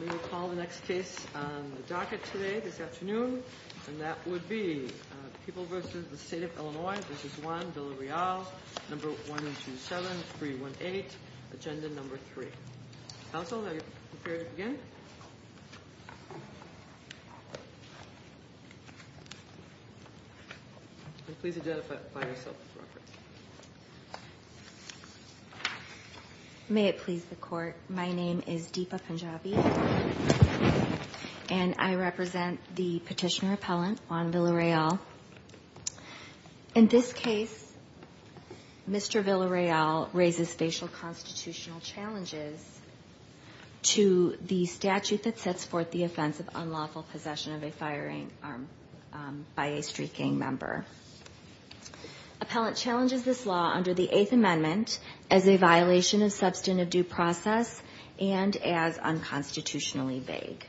We will call the next case on the docket today, this afternoon. And that would be People v. the State of Illinois v. Juan Villareal, No. 1027318, Agenda No. 3. Counsel, are you prepared to begin? Please identify yourself as referenced. May it please the Court, my name is Deepa Punjabi, and I represent the petitioner appellant, Juan Villareal. In this case, Mr. Villareal raises facial constitutional challenges to the statute that sets forth the offense of unlawful possession of a firing arm by a street gang member. Appellant challenges this law under the Eighth Amendment as a violation of substantive due process and as unconstitutionally vague.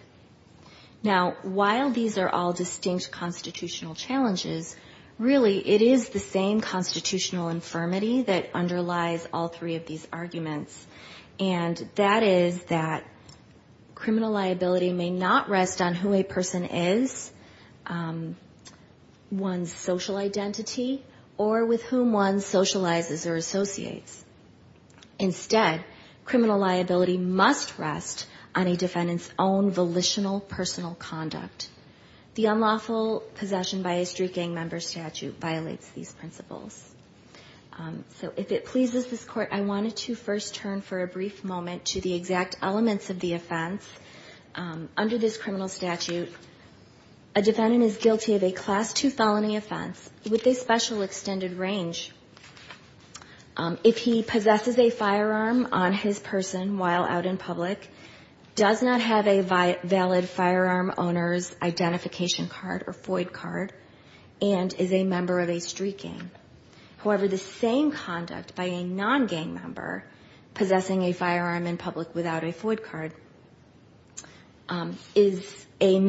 Now, while these are all distinct constitutional challenges, really it is the same constitutional infirmity that underlies all three of these arguments. And that is that criminal liability may not rest on who a person is, one's social identity, or with whom one socializes or associates. Instead, criminal liability must rest on a defendant's own volitional personal conduct. The unlawful possession by a street gang member statute violates these principles. So if it pleases this Court, I wanted to first turn for a brief moment to the exact elements of the offense. Under this criminal statute, a defendant is guilty of a Class II felony offense with a special extended range. If he possesses a firearm on his person while out in public, does not have a valid firearm owner's identification card or FOID card, and is a member of a street gang. However, the same conduct by a non-gang member possessing a firearm in public without a FOID card is a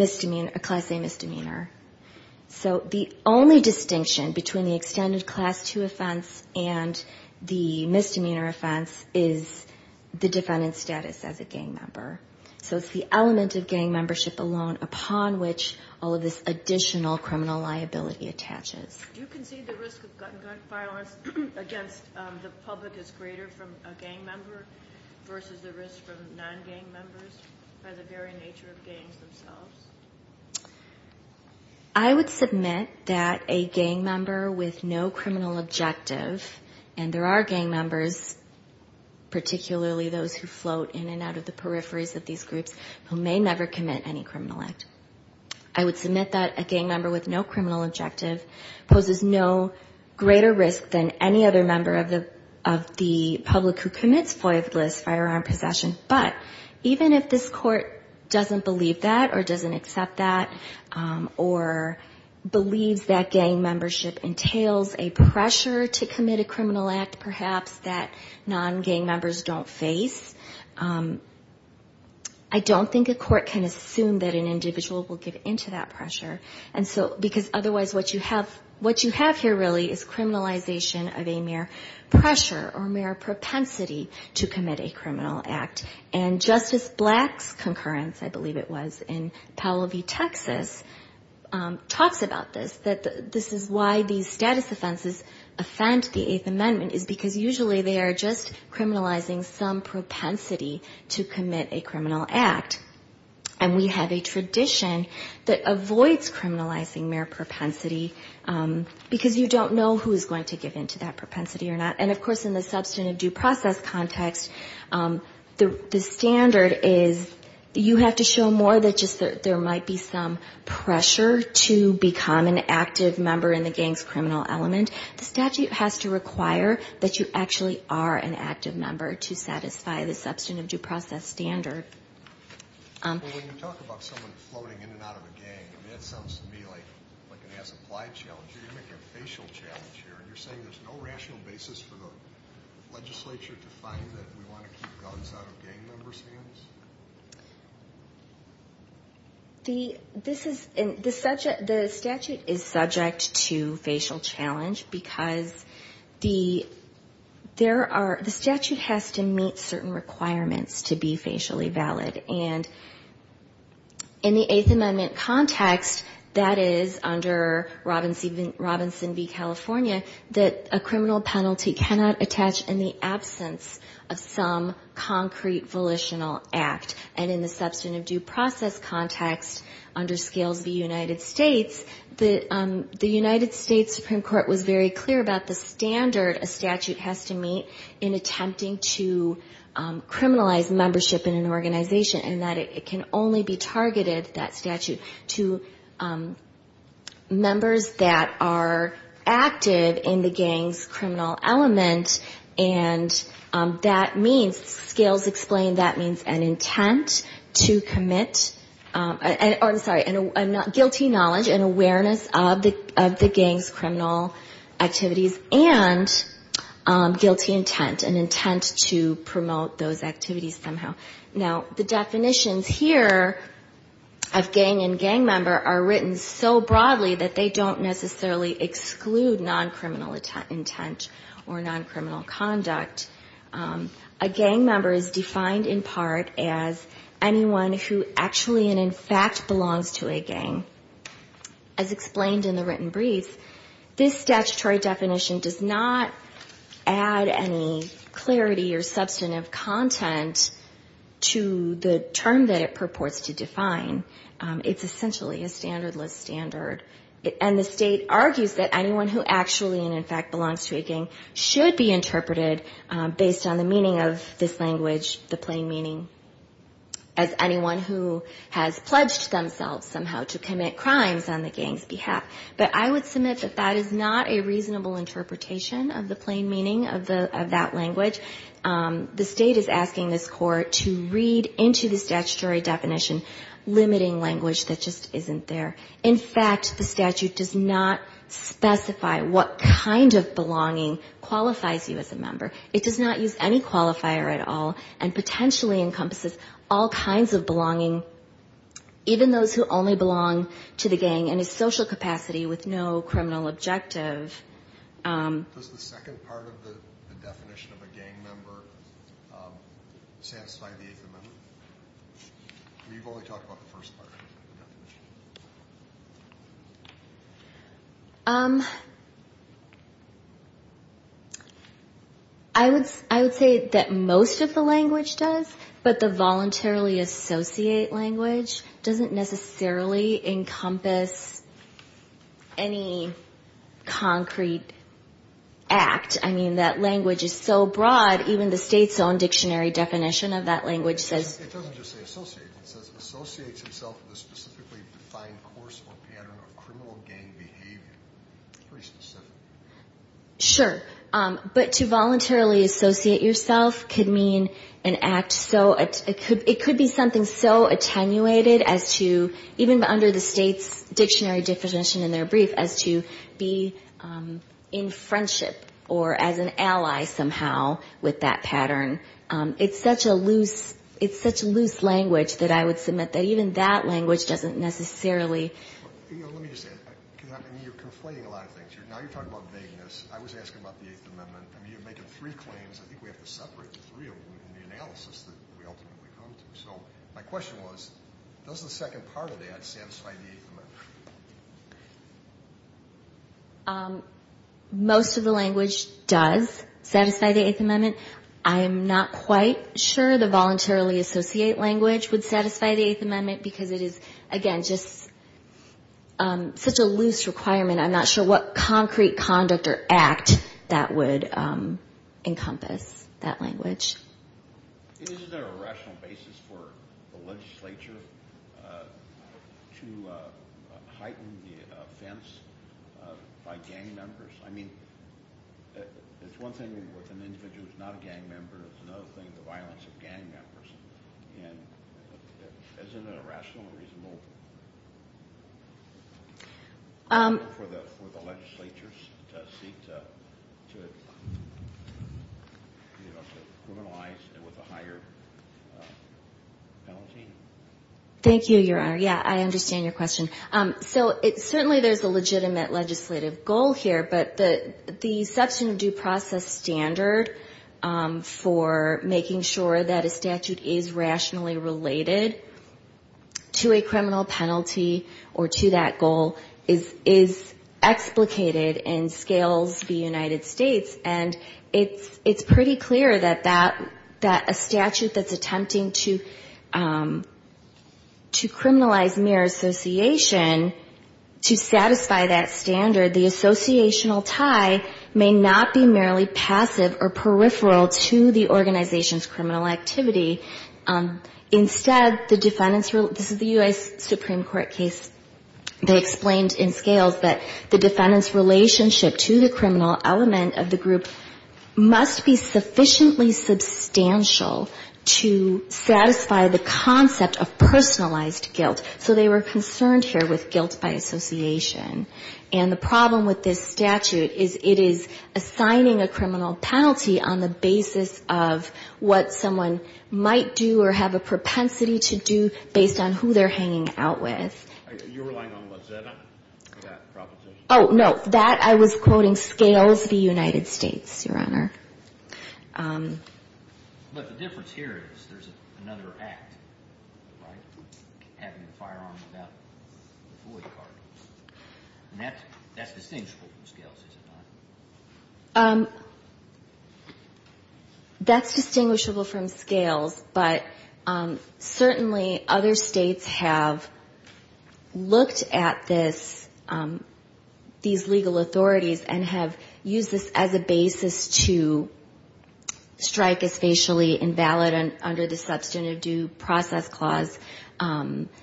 Class A misdemeanor. So the only distinction between the extended Class II offense and the misdemeanor offense is the defendant's status as a gang member. So it's the element of gang membership alone upon which all of this additional criminal liability attaches. Do you concede the risk of gun violence against the public is greater from a gang member versus the risk from non-gang members by the very nature of gangs themselves? I would submit that a gang member with no criminal objective, and there are gang members, particularly those who float in and out of the peripheries of these groups, who may never commit any criminal act. I would submit that a gang member with no criminal objective poses no greater risk than any other member of the public who commits FOID-less firearm possession. But even if this court doesn't believe that or doesn't accept that or believes that gang membership entails a pressure to commit a criminal act perhaps that non-gang members don't face, I don't think a court can assume that an individual will give in to that pressure. Because otherwise what you have here really is criminalization of a mere pressure or mere propensity to commit a criminal act. And Justice Black's concurrence, I believe it was, in Powell v. Texas talks about this. That this is why these status offenses offend the Eighth Amendment, is because usually they are just criminalizing some propensity to commit a criminal act. And we have a tradition that avoids criminalizing mere propensity, because you don't know who is going to give in to that propensity or not. And of course in the substantive due process context, the standard is you have to show more than just there might be some pressure to become an active member. An active member in the gang's criminal element. The statute has to require that you actually are an active member to satisfy the substantive due process standard. When you talk about someone floating in and out of a gang, that sounds to me like an as-applied challenge. You're going to make a facial challenge here. And you're saying there's no rational basis for the legislature to find that we want to keep guns out of gang members' hands? The statute is subject to facial challenge, because the statute has to meet certain requirements to be facially valid. And in the Eighth Amendment context, that is under Robinson v. California, that a criminal penalty cannot attach in the absence of some concrete volitional act. And in the substantive due process context, under Scales v. United States, the United States Supreme Court was very clear about the standard a statute has to meet in attempting to criminalize membership in an organization. And that it can only be targeted, that statute, to members that are active in the gang's criminal element. And that means, Scales explained, that means an intent to commit, or I'm sorry, a guilty knowledge, an awareness of the gang's criminal activities, and guilty intent, an intent to promote those activities somehow. Now, the definitions here of gang and gang member are written so broadly that they don't necessarily exclude non-criminal intent or non-criminal activity. They don't exclude non-criminal conduct. A gang member is defined in part as anyone who actually and in fact belongs to a gang. As explained in the written brief, this statutory definition does not add any clarity or substantive content to the term that it purports to define. It's essentially a standardless standard. And the state argues that anyone who actually and in fact belongs to a gang should be entitled to a gang. And that is interpreted based on the meaning of this language, the plain meaning, as anyone who has pledged themselves somehow to commit crimes on the gang's behalf. But I would submit that that is not a reasonable interpretation of the plain meaning of that language. The state is asking this Court to read into the statutory definition limiting language that just isn't there. In fact, the statute does not specify what kind of belonging qualifies you as a gang member. It does not use any qualifier at all and potentially encompasses all kinds of belonging, even those who only belong to the gang in a social capacity with no criminal objective. Does the second part of the definition of a gang member satisfy the eighth amendment? Or you've only talked about the first part of the definition? I would say that most of the language does, but the voluntarily associate language doesn't necessarily encompass any concrete act. I mean, that language is so broad, even the state's own dictionary definition of that language says... It doesn't just say associate. It says associates himself with a specifically defined course or pattern of criminal gang behavior. Pretty specific. Sure. But to voluntarily associate yourself could mean an act so... It could be something so attenuated as to, even under the state's dictionary definition in their brief, as to be in friendship or as an ally somehow with that pattern. It's such a loose language that I would submit that even that language doesn't necessarily... Let me just say, you're conflating a lot of things. Now you're talking about vagueness. I was asking about the eighth amendment. I mean, you're making three claims. I think we have to separate the three of them in the analysis that we ultimately come to. So my question was, does the second part of that satisfy the eighth amendment? Most of the language does satisfy the eighth amendment. I'm not quite sure the voluntarily associate language would satisfy the eighth amendment because it is, again, just... Such a loose requirement. I'm not sure what concrete conduct or act that would encompass that language. Isn't there a rational basis for the legislature to heighten the offense by gang members? I mean, it's one thing with an individual who's not a gang member. It's another thing, the violence of gang members. And isn't it a rational and reasonable for the legislature to seek to criminalize it with a higher penalty? Thank you, Your Honor. Yeah, I understand your question. So certainly there's a legitimate legislative goal here, but the substantive due process standard for making sure that a statute is in effect, is rationally related to a criminal penalty or to that goal, is explicated and scales the United States. And it's pretty clear that a statute that's attempting to criminalize mere association, to satisfy that standard, the associational tie may not be merely passive or peripheral to the organization's criminal activity. Instead, the defendant's, this is the U.S. Supreme Court case, they explained in scales that the defendant's relationship to the criminal element of the group must be sufficiently substantial to satisfy the concept of personalized guilt. So they were concerned here with guilt by association. And the problem with this statute is it is assigning a criminal penalty on the basis of what someone might do or have a propensity to do based on who they're hanging out with. You're relying on what, Zeta, that proposition? Oh, no, that I was quoting scales the United States, Your Honor. But the difference here is there's another act, right, having a firearm without a bullet cartridge. And that's distinguishable from scales, is it not? That's distinguishable from scales, but certainly other states have looked at this, these legal authorities and have used this as a basis to strike as facially invalid under the Substantive Due Process Clause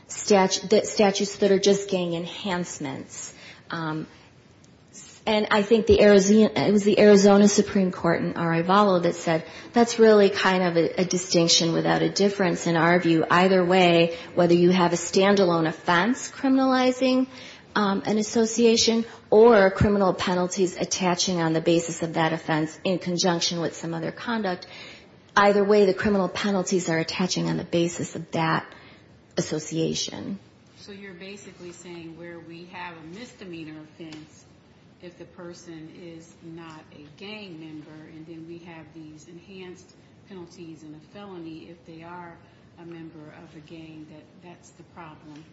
statutes that are just getting enhanced by the statute. And I think it was the Arizona Supreme Court in Arivalo that said that's really kind of a distinction without a difference in our view. Either way, whether you have a standalone offense criminalizing an association or criminal penalties attaching on the basis of that offense in conjunction with some other conduct, either way the criminal penalties are attaching on the basis of that association. So you're basically saying where we have a misdemeanor offense, if the person is not a gang member, and then we have these enhanced penalties and a felony if they are a member of a gang, that that's the problem?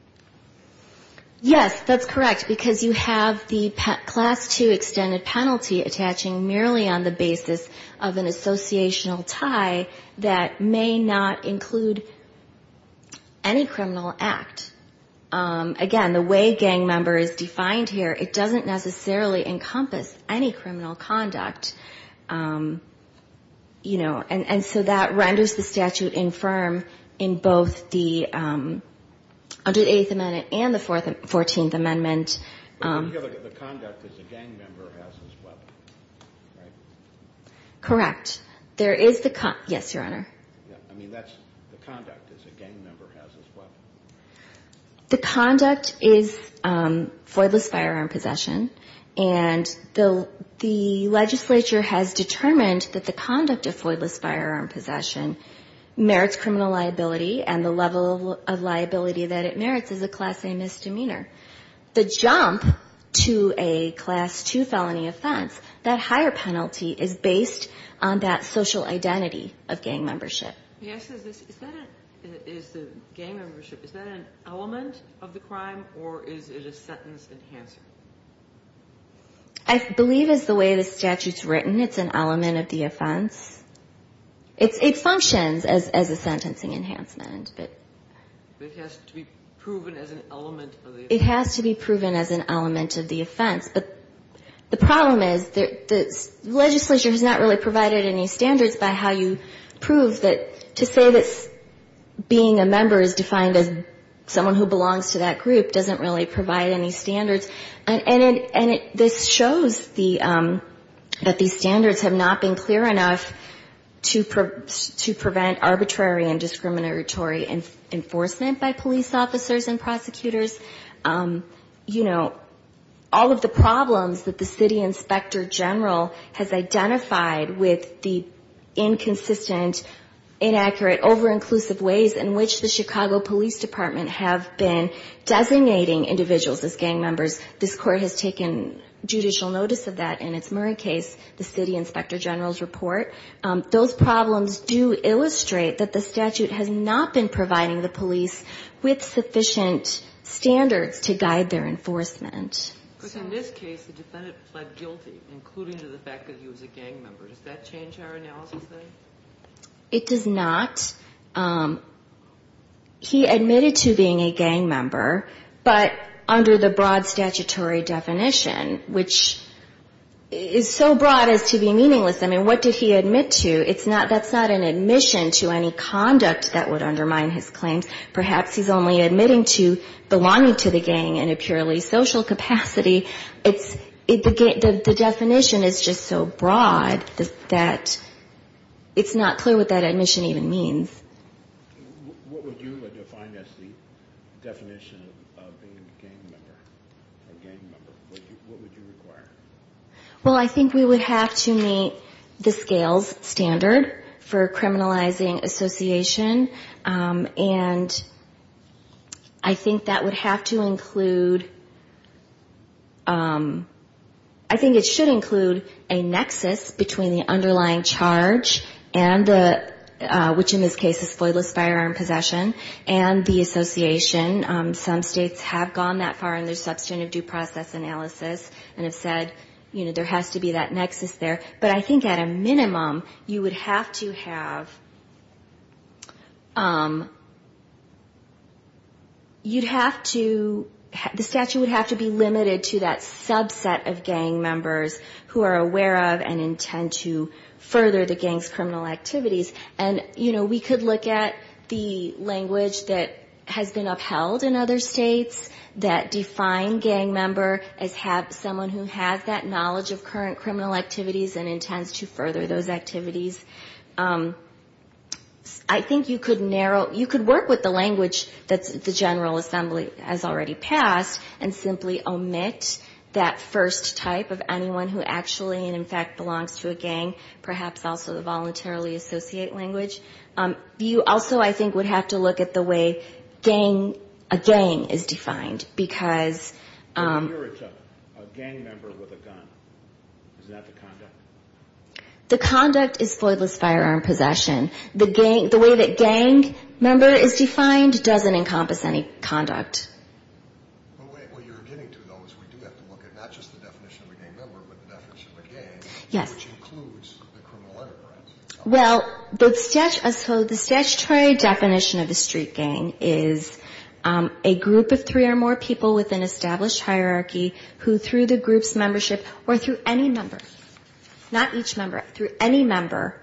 Yes, that's correct, because you have the class two extended penalty attaching merely on the basis of an associational tie that may not include any criminal act. Again, the way gang member is defined here, it doesn't necessarily encompass any criminal conduct. And so that renders the statute infirm in both the 108th Amendment and the 14th Amendment. The conduct as a gang member has as well, right? Correct. The conduct is foidless firearm possession, and the legislature has determined that the conduct of foidless firearm possession merits criminal liability and the level of liability that it merits is a class A misdemeanor. The jump to a class two felony offense, that higher penalty is based on that social identity of gang membership. Yes, is the gang membership, is that an element of the crime, or is it a sentence enhancer? I believe it's the way the statute's written, it's an element of the offense. It functions as a sentencing enhancement. But it has to be proven as an element of the offense. It has to be proven as an element of the offense. But the problem is the legislature has not really provided any standards by how you prove that to say that being a member is defined as someone who belongs to that group doesn't really provide any standards. And this shows that these standards have not been clear enough to prevent arbitrary and discriminatory enforcement by police officers and prosecutors. You know, all of the problems that the city inspector general has identified with the inconsistent, inaccurate, over-inclusive ways in which the Chicago Police Department have been designating individuals as gang members, this Court has taken judicial notice of that in its Murray case, the city inspector general's report. Those problems do illustrate that the statute has not been providing the police with sufficient standards to guide their enforcement. But in this case, the defendant pled guilty, including to the fact that he was a gang member. Does that change our analysis, then? It does not. He admitted to being a gang member, but under the broad statutory definition, which is so broad as to be meaningless. I mean, what did he admit to? That's not an admission to any conduct that would undermine his claims. Perhaps he's only admitting to belonging to the gang in a purely social capacity. The definition is just so broad that it's not clear what that admission even means. What would you define as the definition of being a gang member? What would you require? Well, I think we would have to meet the scales standard for criminalizing association. And I think that would have to include, I think it should include a nexus between the underlying charge, which in this case is flawless firearm possession, and the association. Some states have gone that far in their substantive due process analysis and have said, you know, there has to be that nexus there. But I think at a minimum, you would have to have, you'd have to, the statute would have to be limited to that subset of gang members who are aware of and intend to further the gang's criminal activities. And, you know, we could look at the language that has been upheld in other states that define gang member as someone who has that knowledge of current criminal activities and intends to further those activities. I think you could narrow, you could work with the language that the General Assembly has already passed and simply omit that first type of anyone who actually and in fact belongs to a state language. You also, I think, would have to look at the way gang, a gang is defined. Because... The conduct is flawless firearm possession. The way that gang member is defined doesn't encompass any conduct. Yes. Well, the statutory definition of a street gang is a group of three or more people with an established hierarchy who through the group's membership or through any member, not each member, through any member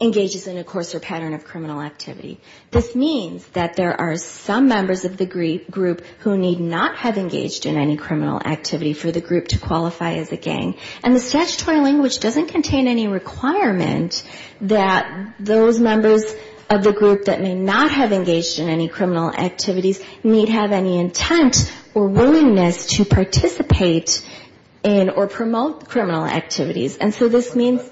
engages in a coarser pattern of criminal activity. This means that there are some members of the group who need not have engaged in any criminal activity for the group to qualify as a gang. And the statutory language doesn't contain any requirement that those members of the group that may not have engaged in any criminal activities need have any intent or willingness to participate in or promote criminal activities. And so this means...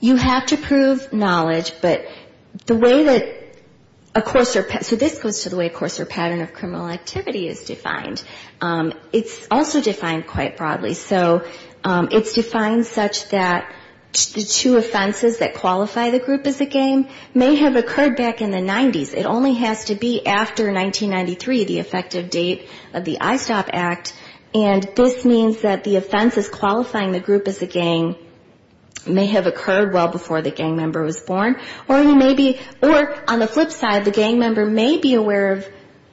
You have to prove knowledge, but the way that a coarser pattern, so this goes to the way a gang is defined. The way a coarser pattern of criminal activity is defined. It's also defined quite broadly. So it's defined such that the two offenses that qualify the group as a gang may have occurred back in the 90s. It only has to be after 1993, the effective date of the ISTOP Act, and this means that the offenses qualifying the group as a gang may have occurred well before the gang member was born. Or he may be, or on the flip side, the gang member may be aware of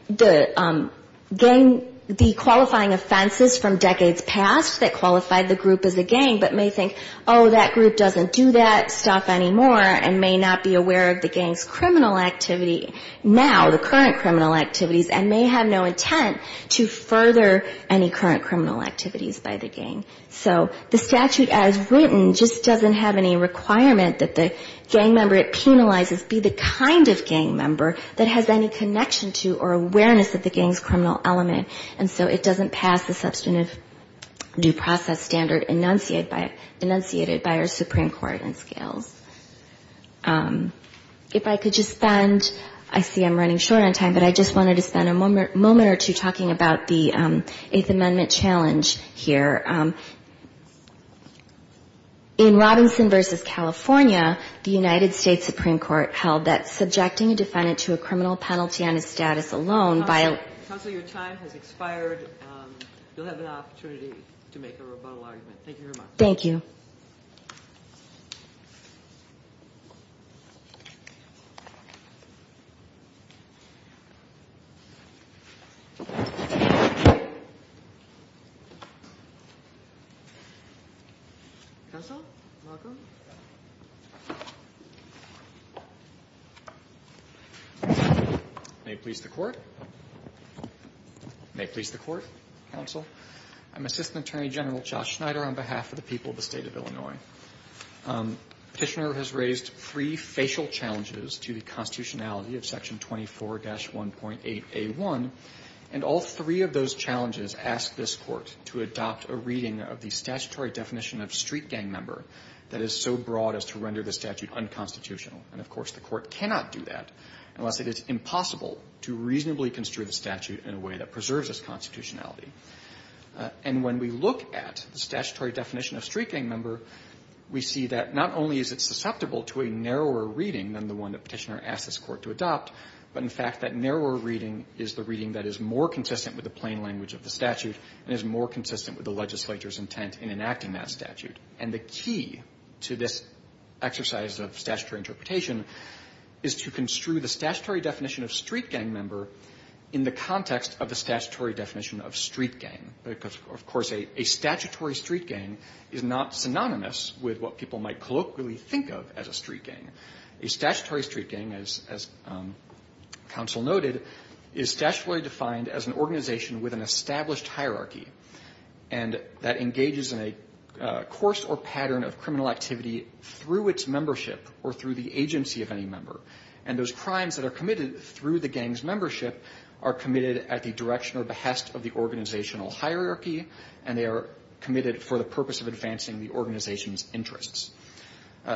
the gang, the qualifying offenses from decades past that qualified the group as a gang, but may think, oh, that group doesn't do that stuff anymore, and may not be aware of the gang's criminal activity now, the current criminal activities, and may have no intent to further any current criminal activities by the gang. So the statute as written just doesn't have any requirement that the gang member it penalizes be the kind of gang member that has any connection to or awareness of the gang's criminal element, and so it doesn't pass the substantive due process standard enunciated by our Supreme Court in scales. If I could just spend, I see I'm running short on time, but I just wanted to spend a moment or two talking about the Eighth Amendment challenge here. In Robinson v. California, the United States Supreme Court held that subjecting a defendant to a criminal penalty under the tenuous status alone by... Counsel, your time has expired. You'll have an opportunity to make a rebuttal argument. Thank you very much. Thank you. May it please the court. May it please the court. Counsel. I'm Assistant Attorney General Josh Schneider on behalf of the people of the State of Illinois. Petitioner has raised three facial challenges to the constitutionality of Section 24-1.8a1, and all three of those challenges ask this Court to adopt a reading of the statutory definition of street gang member that is so broad as to render the statute unconstitutional. And, of course, the Court cannot do that unless it is impossible to reasonably construe the statute in a way that preserves its constitutionality. And when we look at the statutory definition of street gang member, we see that not only is it susceptible to a narrower reading than the one that Petitioner asked this Court to adopt, but, in fact, that narrower reading is the reading that is more consistent with the plain language of the statute and is more consistent with the legislature's intent in enacting that statute. And the key to this exercise of statutory interpretation is to construe the statutory definition of street gang member in the context of the statutory definition of street gang, because, of course, a statutory street gang is not synonymous with what people might colloquially think of as a street gang. A statutory street gang, as counsel noted, is statutorily defined as an organization with an established hierarchy and that engages in a course or pattern of criminal activity through its membership or through the agency of any member. And those crimes that are committed through the gang's membership are committed at the direction or behest of the organizational hierarchy, and they are committed for the purpose of advancing the organization's interests.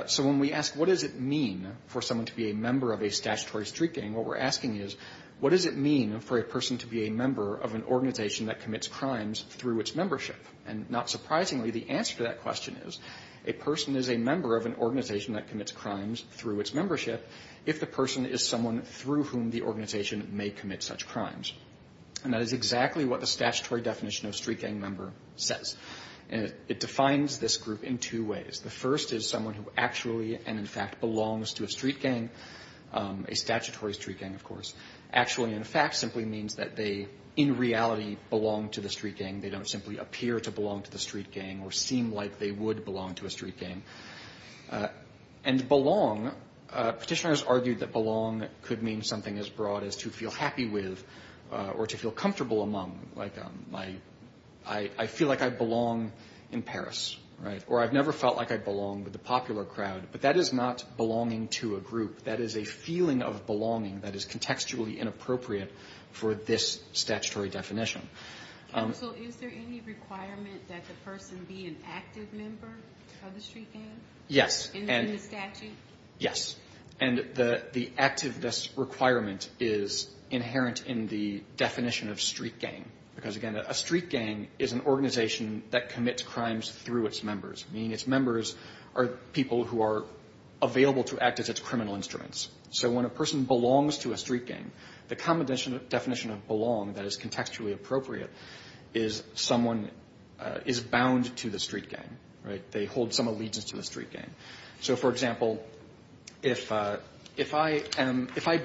So when we ask what does it mean for someone to be a member of a statutory street gang, what we're asking is, what does it mean for a person to be a member of an organization that commits crimes through its membership? And not surprisingly, the answer to that question is, a person is a member of an organization that commits crimes through its membership if the person is someone through whom the organization may commit such crimes. And that is exactly what the statutory definition of street gang member says. And it defines this group in two ways. The first is someone who actually and, in fact, belongs to a street gang, a statutory street gang, of course. Actually and in fact simply means that they, in reality, belong to the street gang. They don't simply appear to belong to the street gang or seem like they would belong to a street gang. And belong, petitioners argued that belong could mean something as broad as to feel happy with or to feel comfortable among. Like, I feel like I belong in Paris, right? Or I've never felt like I belong with the popular crowd. But that is not belonging to a group. That is a feeling of belonging that is contextually inappropriate for this statutory definition. So is there any requirement that the person be an active member of the street gang? Yes. In the statute? Yes. And the activeness requirement is inherent in the definition of street gang. Because, again, a street gang is an organization that commits crimes through its members, meaning its members are people who are available to act as its criminal instruments. So when a person belongs to a street gang, the common definition of belong that is contextually appropriate is someone is bound to the street gang, right? They hold some allegiance to the street gang. So, for example, if I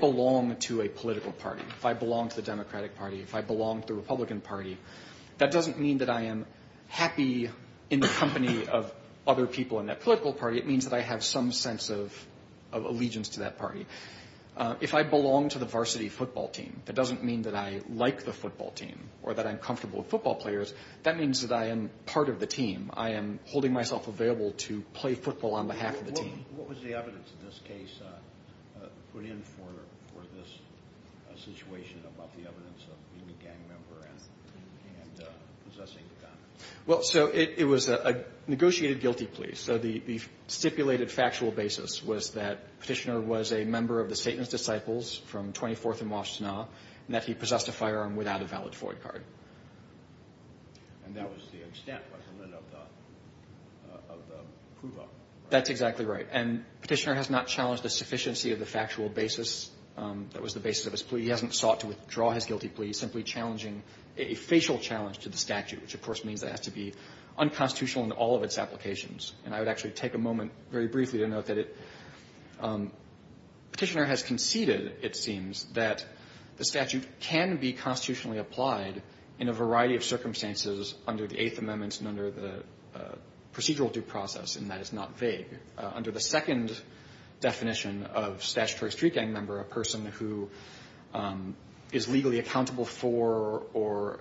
belong to a political party, if I belong to the Democratic Party, if I belong to the Republican Party, that doesn't mean that I am happy in the company of other people in that political party. It means that I have some sense of allegiance to that party. If I belong to the varsity football team, that doesn't mean that I like the football team or that I am comfortable with football players. That means that I am part of the team. I am holding myself available to play football on behalf of the team. What was the evidence in this case put in for this situation about the evidence of being a gang member and possessing a gun? Well, so it was a negotiated guilty plea. So the stipulated factual basis was that Petitioner was a member of the Satan's Disciples from 24th and Washtenaw, and that he possessed a firearm without a valid FOIA card. And that was the extent of the prove-up, right? That's exactly right. And Petitioner has not challenged the sufficiency of the factual basis that was the basis of his plea. He hasn't sought to withdraw his guilty plea, simply challenging a facial challenge to the statute, which, of course, means that it has to be unconstitutional in all of its applications. And I would actually take a moment very briefly to note that Petitioner has conceded, it seems, that the statute can be constitutionally applied in a variety of circumstances under the Eighth Amendment and under the procedural due process, and that is not vague. Under the second definition of statutory street gang member, a person who is legally accountable for or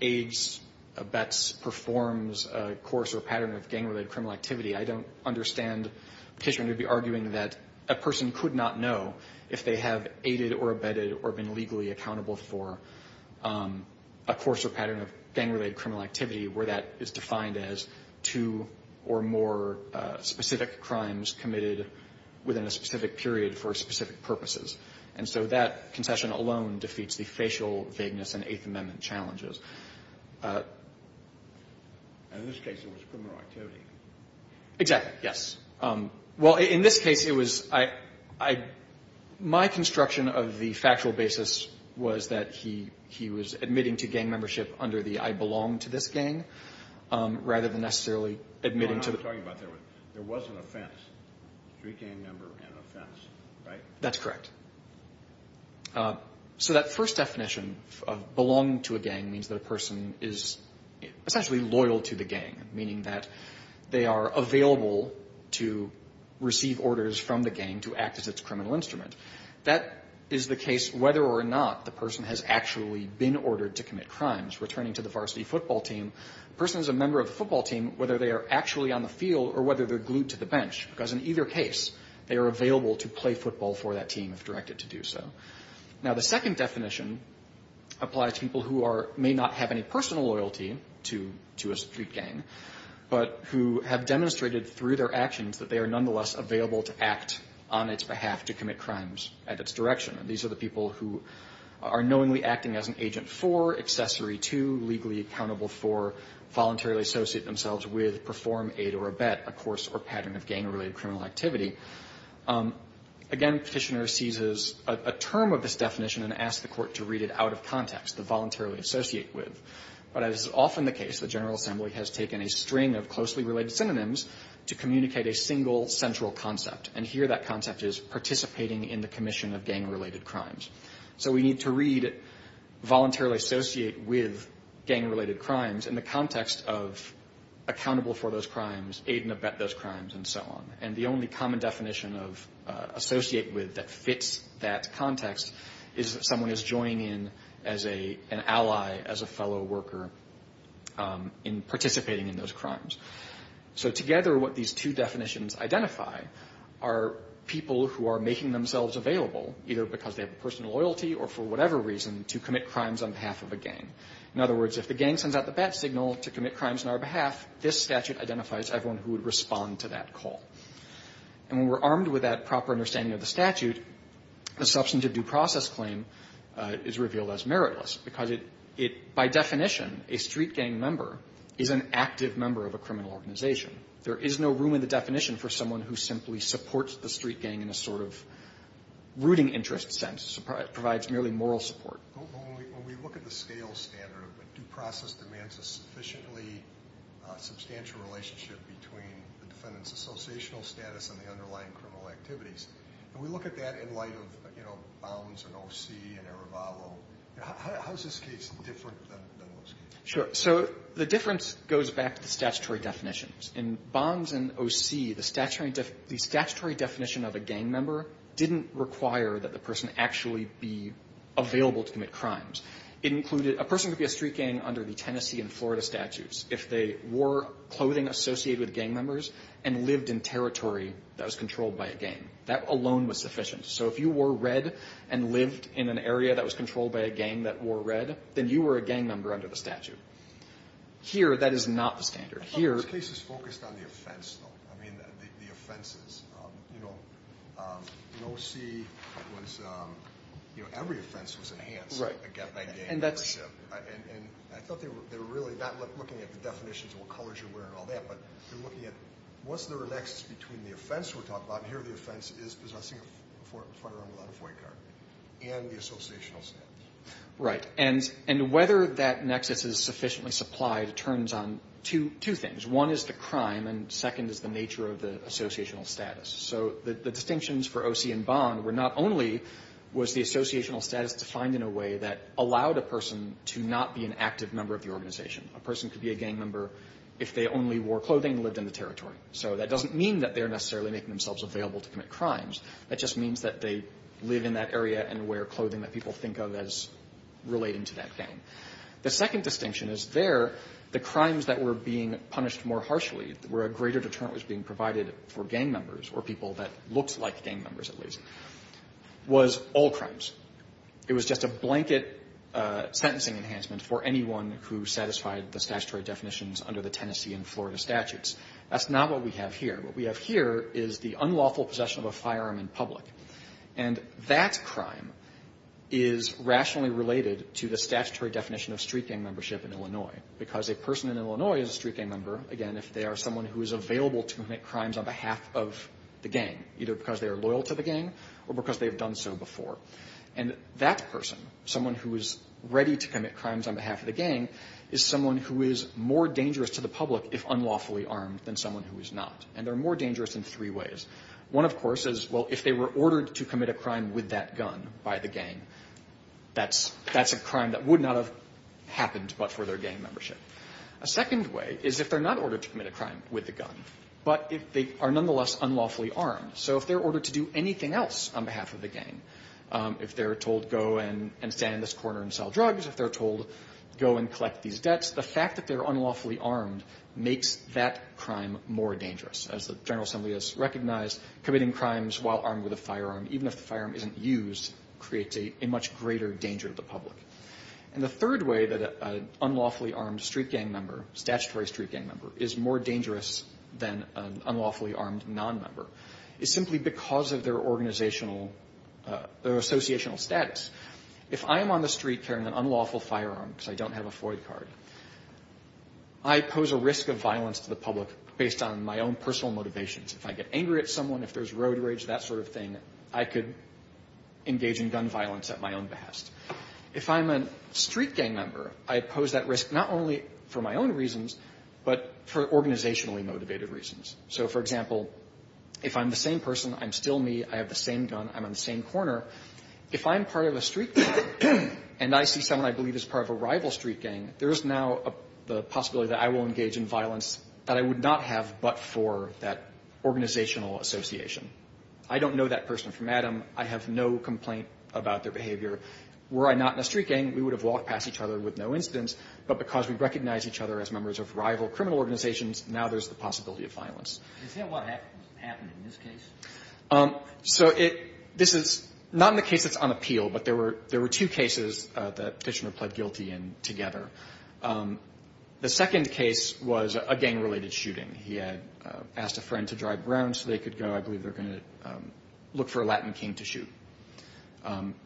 aids, abets, performs a course or pattern of gang-related criminal activity, I don't understand Petitioner to be arguing that a person could not know if they have aided or abetted or been legally accountable for a course or pattern of gang-related criminal activity where that is defined as two or more specific crimes committed within a specific period for specific purposes. And so that concession alone defeats the facial vagueness in Eighth Amendment challenges. And in this case, it was criminal activity. Exactly. Yes. Well, in this case, it was I my construction of the factual basis was that he was admitting to gang membership under the I belong to this gang rather than necessarily admitting to the There was an offense. Street gang member and offense, right? That's correct. So that first definition of belonging to a gang means that a person is essentially loyal to the gang, meaning that they are available to receive orders from the gang to act as its criminal instrument. That is the case whether or not the person has actually been ordered to commit crimes. Returning to the varsity football team, a person is a member of the football team because in either case, they are available to play football for that team if directed to do so. Now, the second definition applies to people who may not have any personal loyalty to a street gang, but who have demonstrated through their actions that they are nonetheless available to act on its behalf to commit crimes at its direction. And these are the people who are knowingly acting as an agent for, accessory to, legally accountable for, voluntarily associate themselves with, perform aid or abet, a course or pattern of gang-related criminal activity. Again, Petitioner seizes a term of this definition and asks the Court to read it out of context, the voluntarily associate with. But as is often the case, the General Assembly has taken a string of closely related synonyms to communicate a single central concept. And here that concept is participating in the commission of gang-related crimes. So we need to read voluntarily associate with gang-related crimes in the context of accountable for those crimes, aid and abet those crimes, and so on. And the only common definition of associate with that fits that context is that someone is joining in as an ally, as a fellow worker in participating in those crimes. So together, what these two definitions identify are people who are making themselves available, either because they have personal loyalty or for whatever reason, to commit crimes on behalf of a gang. In other words, if the gang sends out the bat signal to commit crimes on our behalf, this statute identifies everyone who would respond to that call. And when we're armed with that proper understanding of the statute, a substantive due process claim is revealed as meritless, because it by definition, a street gang member is an active member of a criminal organization. There is no room in the definition for someone who simply supports the street gang in a sort of rooting interest sense, provides merely moral support. When we look at the scale standard, due process demands a sufficiently substantial relationship between the defendant's associational status and the underlying criminal activities. And we look at that in light of, you know, Bonds and O.C. and Arevalo. How is this case different than those cases? Sure. So the difference goes back to the statutory definitions. In Bonds and O.C., the statutory definition of a gang member didn't require that the person actually be available to commit crimes. It included a person could be a street gang under the Tennessee and Florida statutes if they wore clothing associated with gang members and lived in territory that was controlled by a gang. That alone was sufficient. So if you wore red and lived in an area that was controlled by a gang that wore red, then you were a gang member under the statute. Here, that is not the standard. Here the case is focused on the offense, though, I mean, the offenses. You know, in O.C., it was, you know, every offense was enhanced. Right. A gang membership. And I thought they were really not looking at the definitions of what colors you wear and all that, but they're looking at was there a nexus between the offense we're talking about, and here the offense is possessing a firearm without a FOIA card, and the associational status. Right. And whether that nexus is sufficiently supplied turns on two things. One is the crime, and second is the nature of the associational status. So the distinctions for O.C. and Bond were not only was the associational status defined in a way that allowed a person to not be an active member of the organization. A person could be a gang member if they only wore clothing and lived in the territory. So that doesn't mean that they're necessarily making themselves available to commit crimes. That just means that they live in that area and wear clothing that people think of as relating to that gang. The second distinction is there the crimes that were being punished more harshly where a greater deterrent was being provided for gang members or people that looked like gang members, at least, was all crimes. It was just a blanket sentencing enhancement for anyone who satisfied the statutory definitions under the Tennessee and Florida statutes. That's not what we have here. What we have here is the unlawful possession of a firearm in public, and that crime is rationally related to the statutory definition of street gang membership in Illinois. Because a person in Illinois is a street gang member, again, if they are someone who is available to commit crimes on behalf of the gang, either because they are loyal to the gang or because they've done so before. And that person, someone who is ready to commit crimes on behalf of the gang, is someone who is more dangerous to the public if unlawfully armed than someone who is not. And they're more dangerous in three ways. One, of course, is, well, if they were ordered to commit a crime with that gun by the gang, that's a crime that would not have happened but for their gang membership. A second way is if they're not ordered to commit a crime with the gun, but if they are nonetheless unlawfully armed. So if they're ordered to do anything else on behalf of the gang, if they're told go and stand in this corner and sell drugs, if they're told go and collect these debts, the fact that they're unlawfully armed makes that crime more dangerous. As the General Assembly has recognized, committing crimes while armed with a firearm, even if the firearm isn't used, creates a much greater danger to the public. And the third way that an unlawfully armed street gang member, statutory street gang member, is more dangerous than an unlawfully armed nonmember is simply because of their organizational, their associational status. If I am on the street carrying an unlawful firearm because I don't have a Floyd card, I pose a risk of violence to the public based on my own personal motivations. If I get angry at someone, if there's road rage, that sort of thing, I could engage in gun violence at my own behest. If I'm a street gang member, I pose that risk not only for my own reasons, but for organizationally motivated reasons. So, for example, if I'm the same person, I'm still me, I have the same gun, I'm on the same corner, if I'm part of a street gang and I see someone I believe is part of a rival street gang, there is now the possibility that I will engage in violence that I would not have but for that organizational association. I don't know that person from Adam. I have no complaint about their behavior. Were I not in a street gang, we would have walked past each other with no incidents, but because we recognize each other as members of rival criminal organizations, now there's the possibility of violence. Is that what happened in this case? So it – this is not in the case that's on appeal, but there were two cases that The second case was a gang-related shooting. He had asked a friend to drive around so they could go. I believe they're going to look for a Latin king to shoot.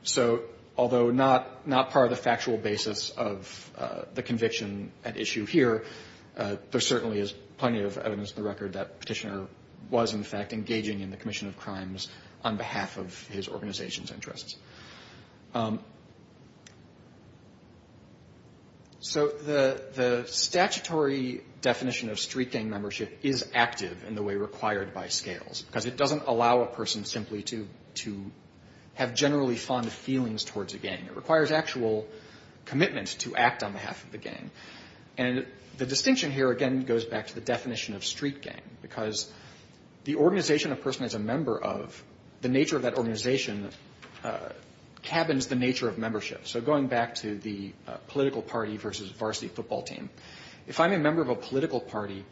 So although not part of the factual basis of the conviction at issue here, there certainly is plenty of evidence on the record that Petitioner was, in fact, engaging in the commission of crimes on behalf of his organization's interests. So the statutory definition of street gang membership is active in the way required by scales, because it doesn't allow a person simply to have generally fond feelings towards a gang. It requires actual commitment to act on behalf of the gang. And the distinction here, again, goes back to the definition of street gang, because the organization a person is a member of, the nature of that organization cabins the nature of membership. So going back to the political party versus varsity football team, if I'm a member of a political party,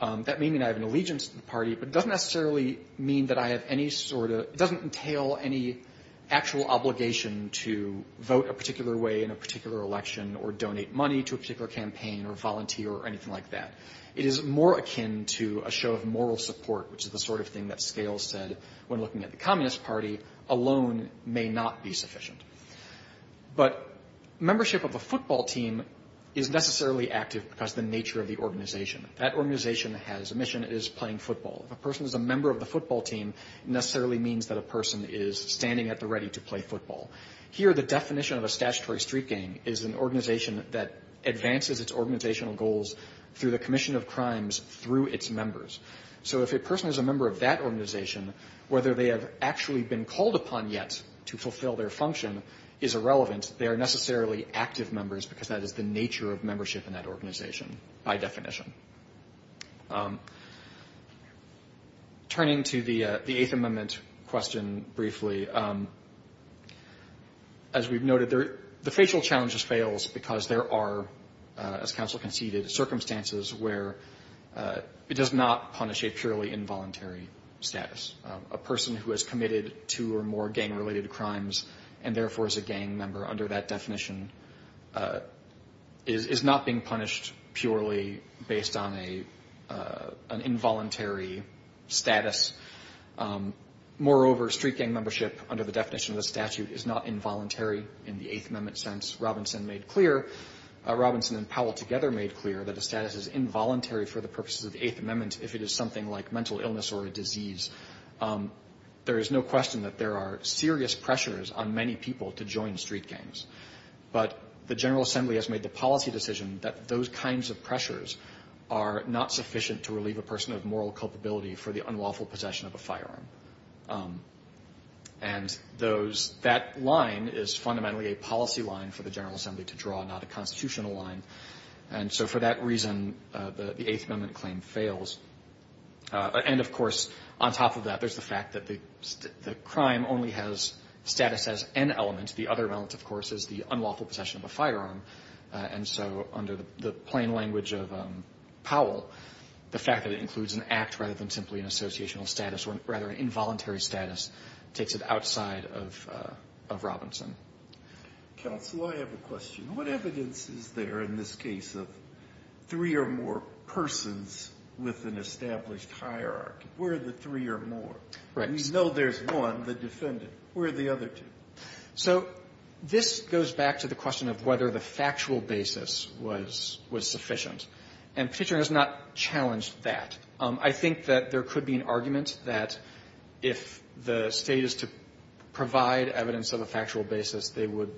that may mean I have an allegiance to the party, but it doesn't necessarily mean that I have any sort of – it doesn't entail any actual obligation to vote a particular way in a particular election or donate money to a particular campaign or volunteer or anything like that. It is more akin to a show of moral support, which is the sort of thing that scales said when looking at the Communist Party alone may not be sufficient. But membership of a football team is necessarily active because of the nature of the organization. That organization has a mission. It is playing football. If a person is a member of the football team, it necessarily means that a person is standing at the ready to play football. Here, the definition of a statutory street gang is an organization that advances its organizational goals through the commission of crimes through its members. So if a person is a member of that organization, whether they have actually been called upon yet to fulfill their function is irrelevant. They are necessarily active members because that is the nature of membership in that organization by definition. Turning to the Eighth Amendment question briefly, as we've noted, the facial challenge fails because there are, as counsel conceded, circumstances where it does not punish a purely involuntary status. A person who has committed two or more gang-related crimes and therefore is a gang member under that definition is not being punished purely based on an involuntary status. Moreover, street gang membership under the definition of the statute is not involuntary in the Eighth Amendment sense. Robinson and Powell together made clear that the status is involuntary for the purposes of the Eighth Amendment if it is something like mental illness or a disease. There is no question that there are serious pressures on many people to join street gangs. But the General Assembly has made the policy decision that those kinds of pressures are not sufficient to relieve a person of moral culpability for the unlawful possession of a firearm. And that line is fundamentally a policy line for the General Assembly to draw, not a constitutional line. And so for that reason, the Eighth Amendment claim fails. And, of course, on top of that, there's the fact that the crime only has status as an element. The other element, of course, is the unlawful possession of a firearm. And so under the plain language of Powell, the fact that it includes an act rather than simply an associational status or rather an involuntary status takes it outside of Robinson. Counsel, I have a question. What evidence is there in this case of three or more persons with an established hierarchy? Where are the three or more? We know there's one, the defendant. Where are the other two? So this goes back to the question of whether the factual basis was sufficient. And Petitioner has not challenged that. I think that there could be an argument that if the State is to provide evidence of a factual basis, it would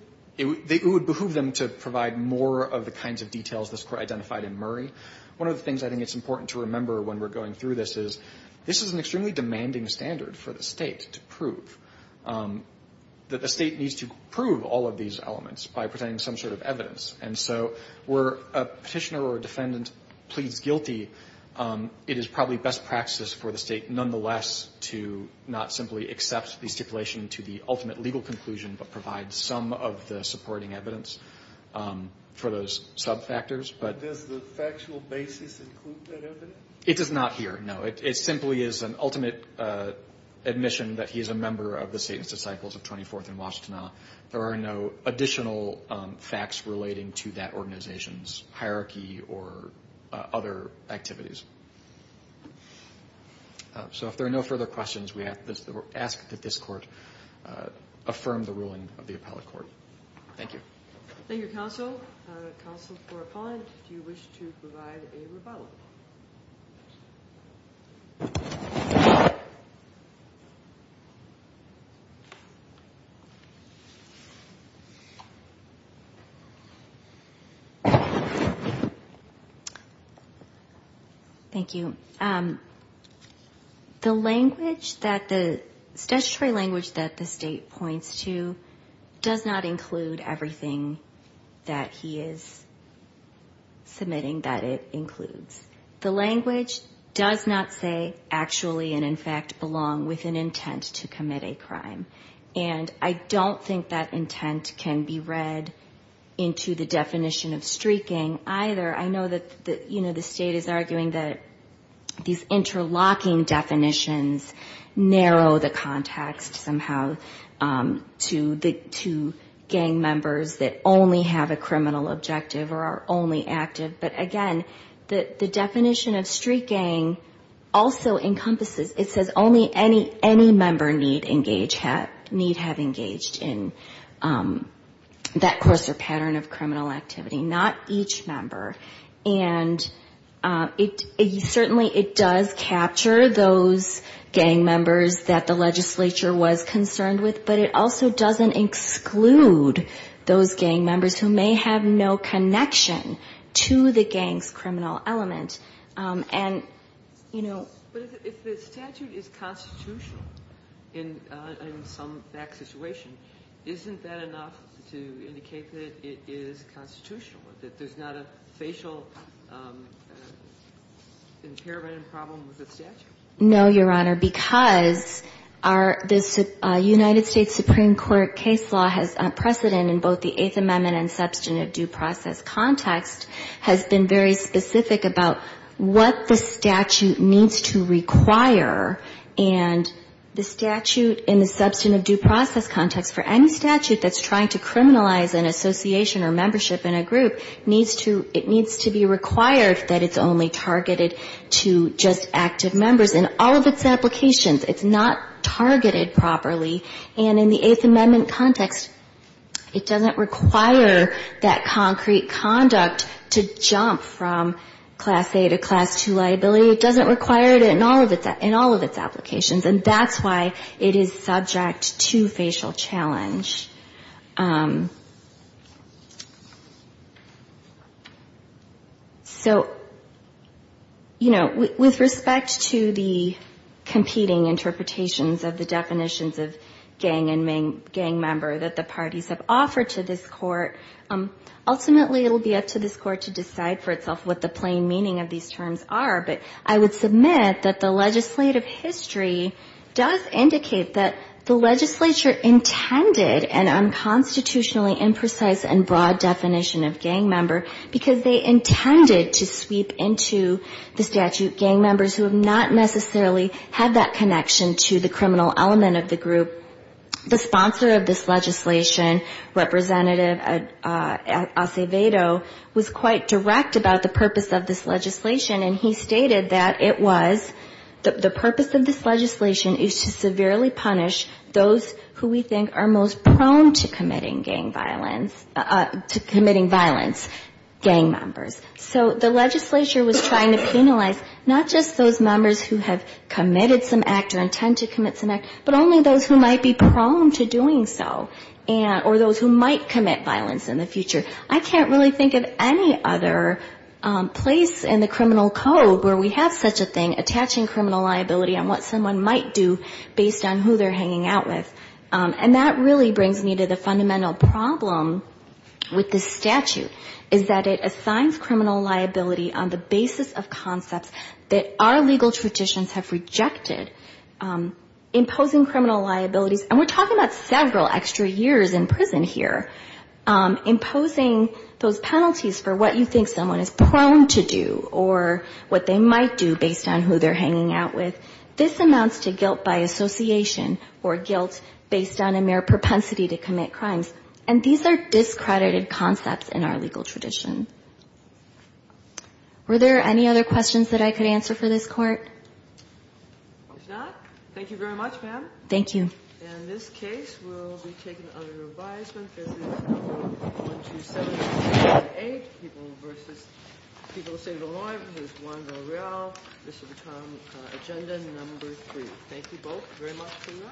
behoove them to provide more of the kinds of details this Court identified in Murray. One of the things I think it's important to remember when we're going through this is this is an extremely demanding standard for the State to prove, that the State needs to prove all of these elements by presenting some sort of evidence. And so where a Petitioner or a defendant pleads guilty, it is probably best practice for the State nonetheless to not simply accept the stipulation to the ultimate legal conclusion, but provide some of the supporting evidence for those sub-factors. But does the factual basis include that evidence? It does not here, no. It simply is an ultimate admission that he is a member of the State and Disciples of 24th and Washtenaw. There are no additional facts relating to that organization's hierarchy or other activities. So if there are no further questions, we ask that this Court affirm the ruling of the Appellate Court. Thank you. Thank you, Counsel. Counsel for Appellant, do you wish to provide a rebuttal? Thank you. The language that the statutory language that the State points to does not include everything that he is submitting that it includes. The language does not say, actually and in fact belong with an intent to commit a crime. And I don't think that intent can be read into the definition of streaking either. I know that the State is arguing that these interlocking definitions narrow the context somehow to gang members that only have a criminal objective or are only active. But again, the definition of streaking also encompasses, it says only any member need have engaged in that course or pattern of criminal activity. Not each member. And certainly it does capture those gang members that the legislature was concerned with, but it also doesn't exclude those gang members who may have no connection to the gang's criminal element. And, you know... But if the statute is constitutional in some situation, isn't that enough to indicate that it is constitutional, that there's not a facial impairment and problem with the statute? No, Your Honor, because our United States Supreme Court case law has precedent in both the Eighth Amendment and substantive due process context has been very specific about what the statute needs to require and the statute in the substantive due process context for any statute that's trying to criminalize an association or membership in a group needs to, it needs to be required that it's only targeted to just active members in all of its applications. It's not targeted properly. And in the Eighth Amendment context, it doesn't require that concrete conduct to jump from Class A to Class II liability. It doesn't require it in all of its applications. And that's why it is subject to facial challenge. So, you know, with respect to the competing interpretations of the definitions of gang and gang member that the parties have offered to this Court, ultimately it will be up to this Court to decide for itself what the plain meaning of these terms are. But I would submit that the legislative history does indicate that the legislature intended an unconstitutionally imprecise and broad definition of gang member because they intended to sweep into the statute gang members who have not necessarily had that connection to the criminal element of the group. The sponsor of this legislation, Representative Acevedo, was quite direct about the purpose of this legislation, and he stated that it was, the purpose of this legislation is to severely punish those who we think are most prone to committing gang violence, committing violence, gang members. So the legislature was trying to penalize not just those members who have committed some act or intend to commit some act, but only those who might be prone to doing so, or those who might commit violence in the future. I can't really think of any other place in the criminal code where we have such a thing, attaching criminal liability on what someone might do based on who they're hanging out with. And that really brings me to the fundamental problem with this statute, is that it assigns criminal liability on the basis of concepts that our legal traditions have rejected, imposing criminal liabilities, and we're talking about several extra years in prison here, imposing those penalties for what you think someone is prone to do or what they might do based on who they're hanging out with. This amounts to guilt by association or guilt based on a mere propensity to commit crimes, and these are discredited concepts in our legal tradition. Were there any other questions that I could answer for this Court? There's not. Thank you very much, ma'am. Thank you. And this case will be taken under revisement. This is number 127.8, People v. State of Illinois v. Juan Valreal. This will become Agenda No. 3. Thank you both very much.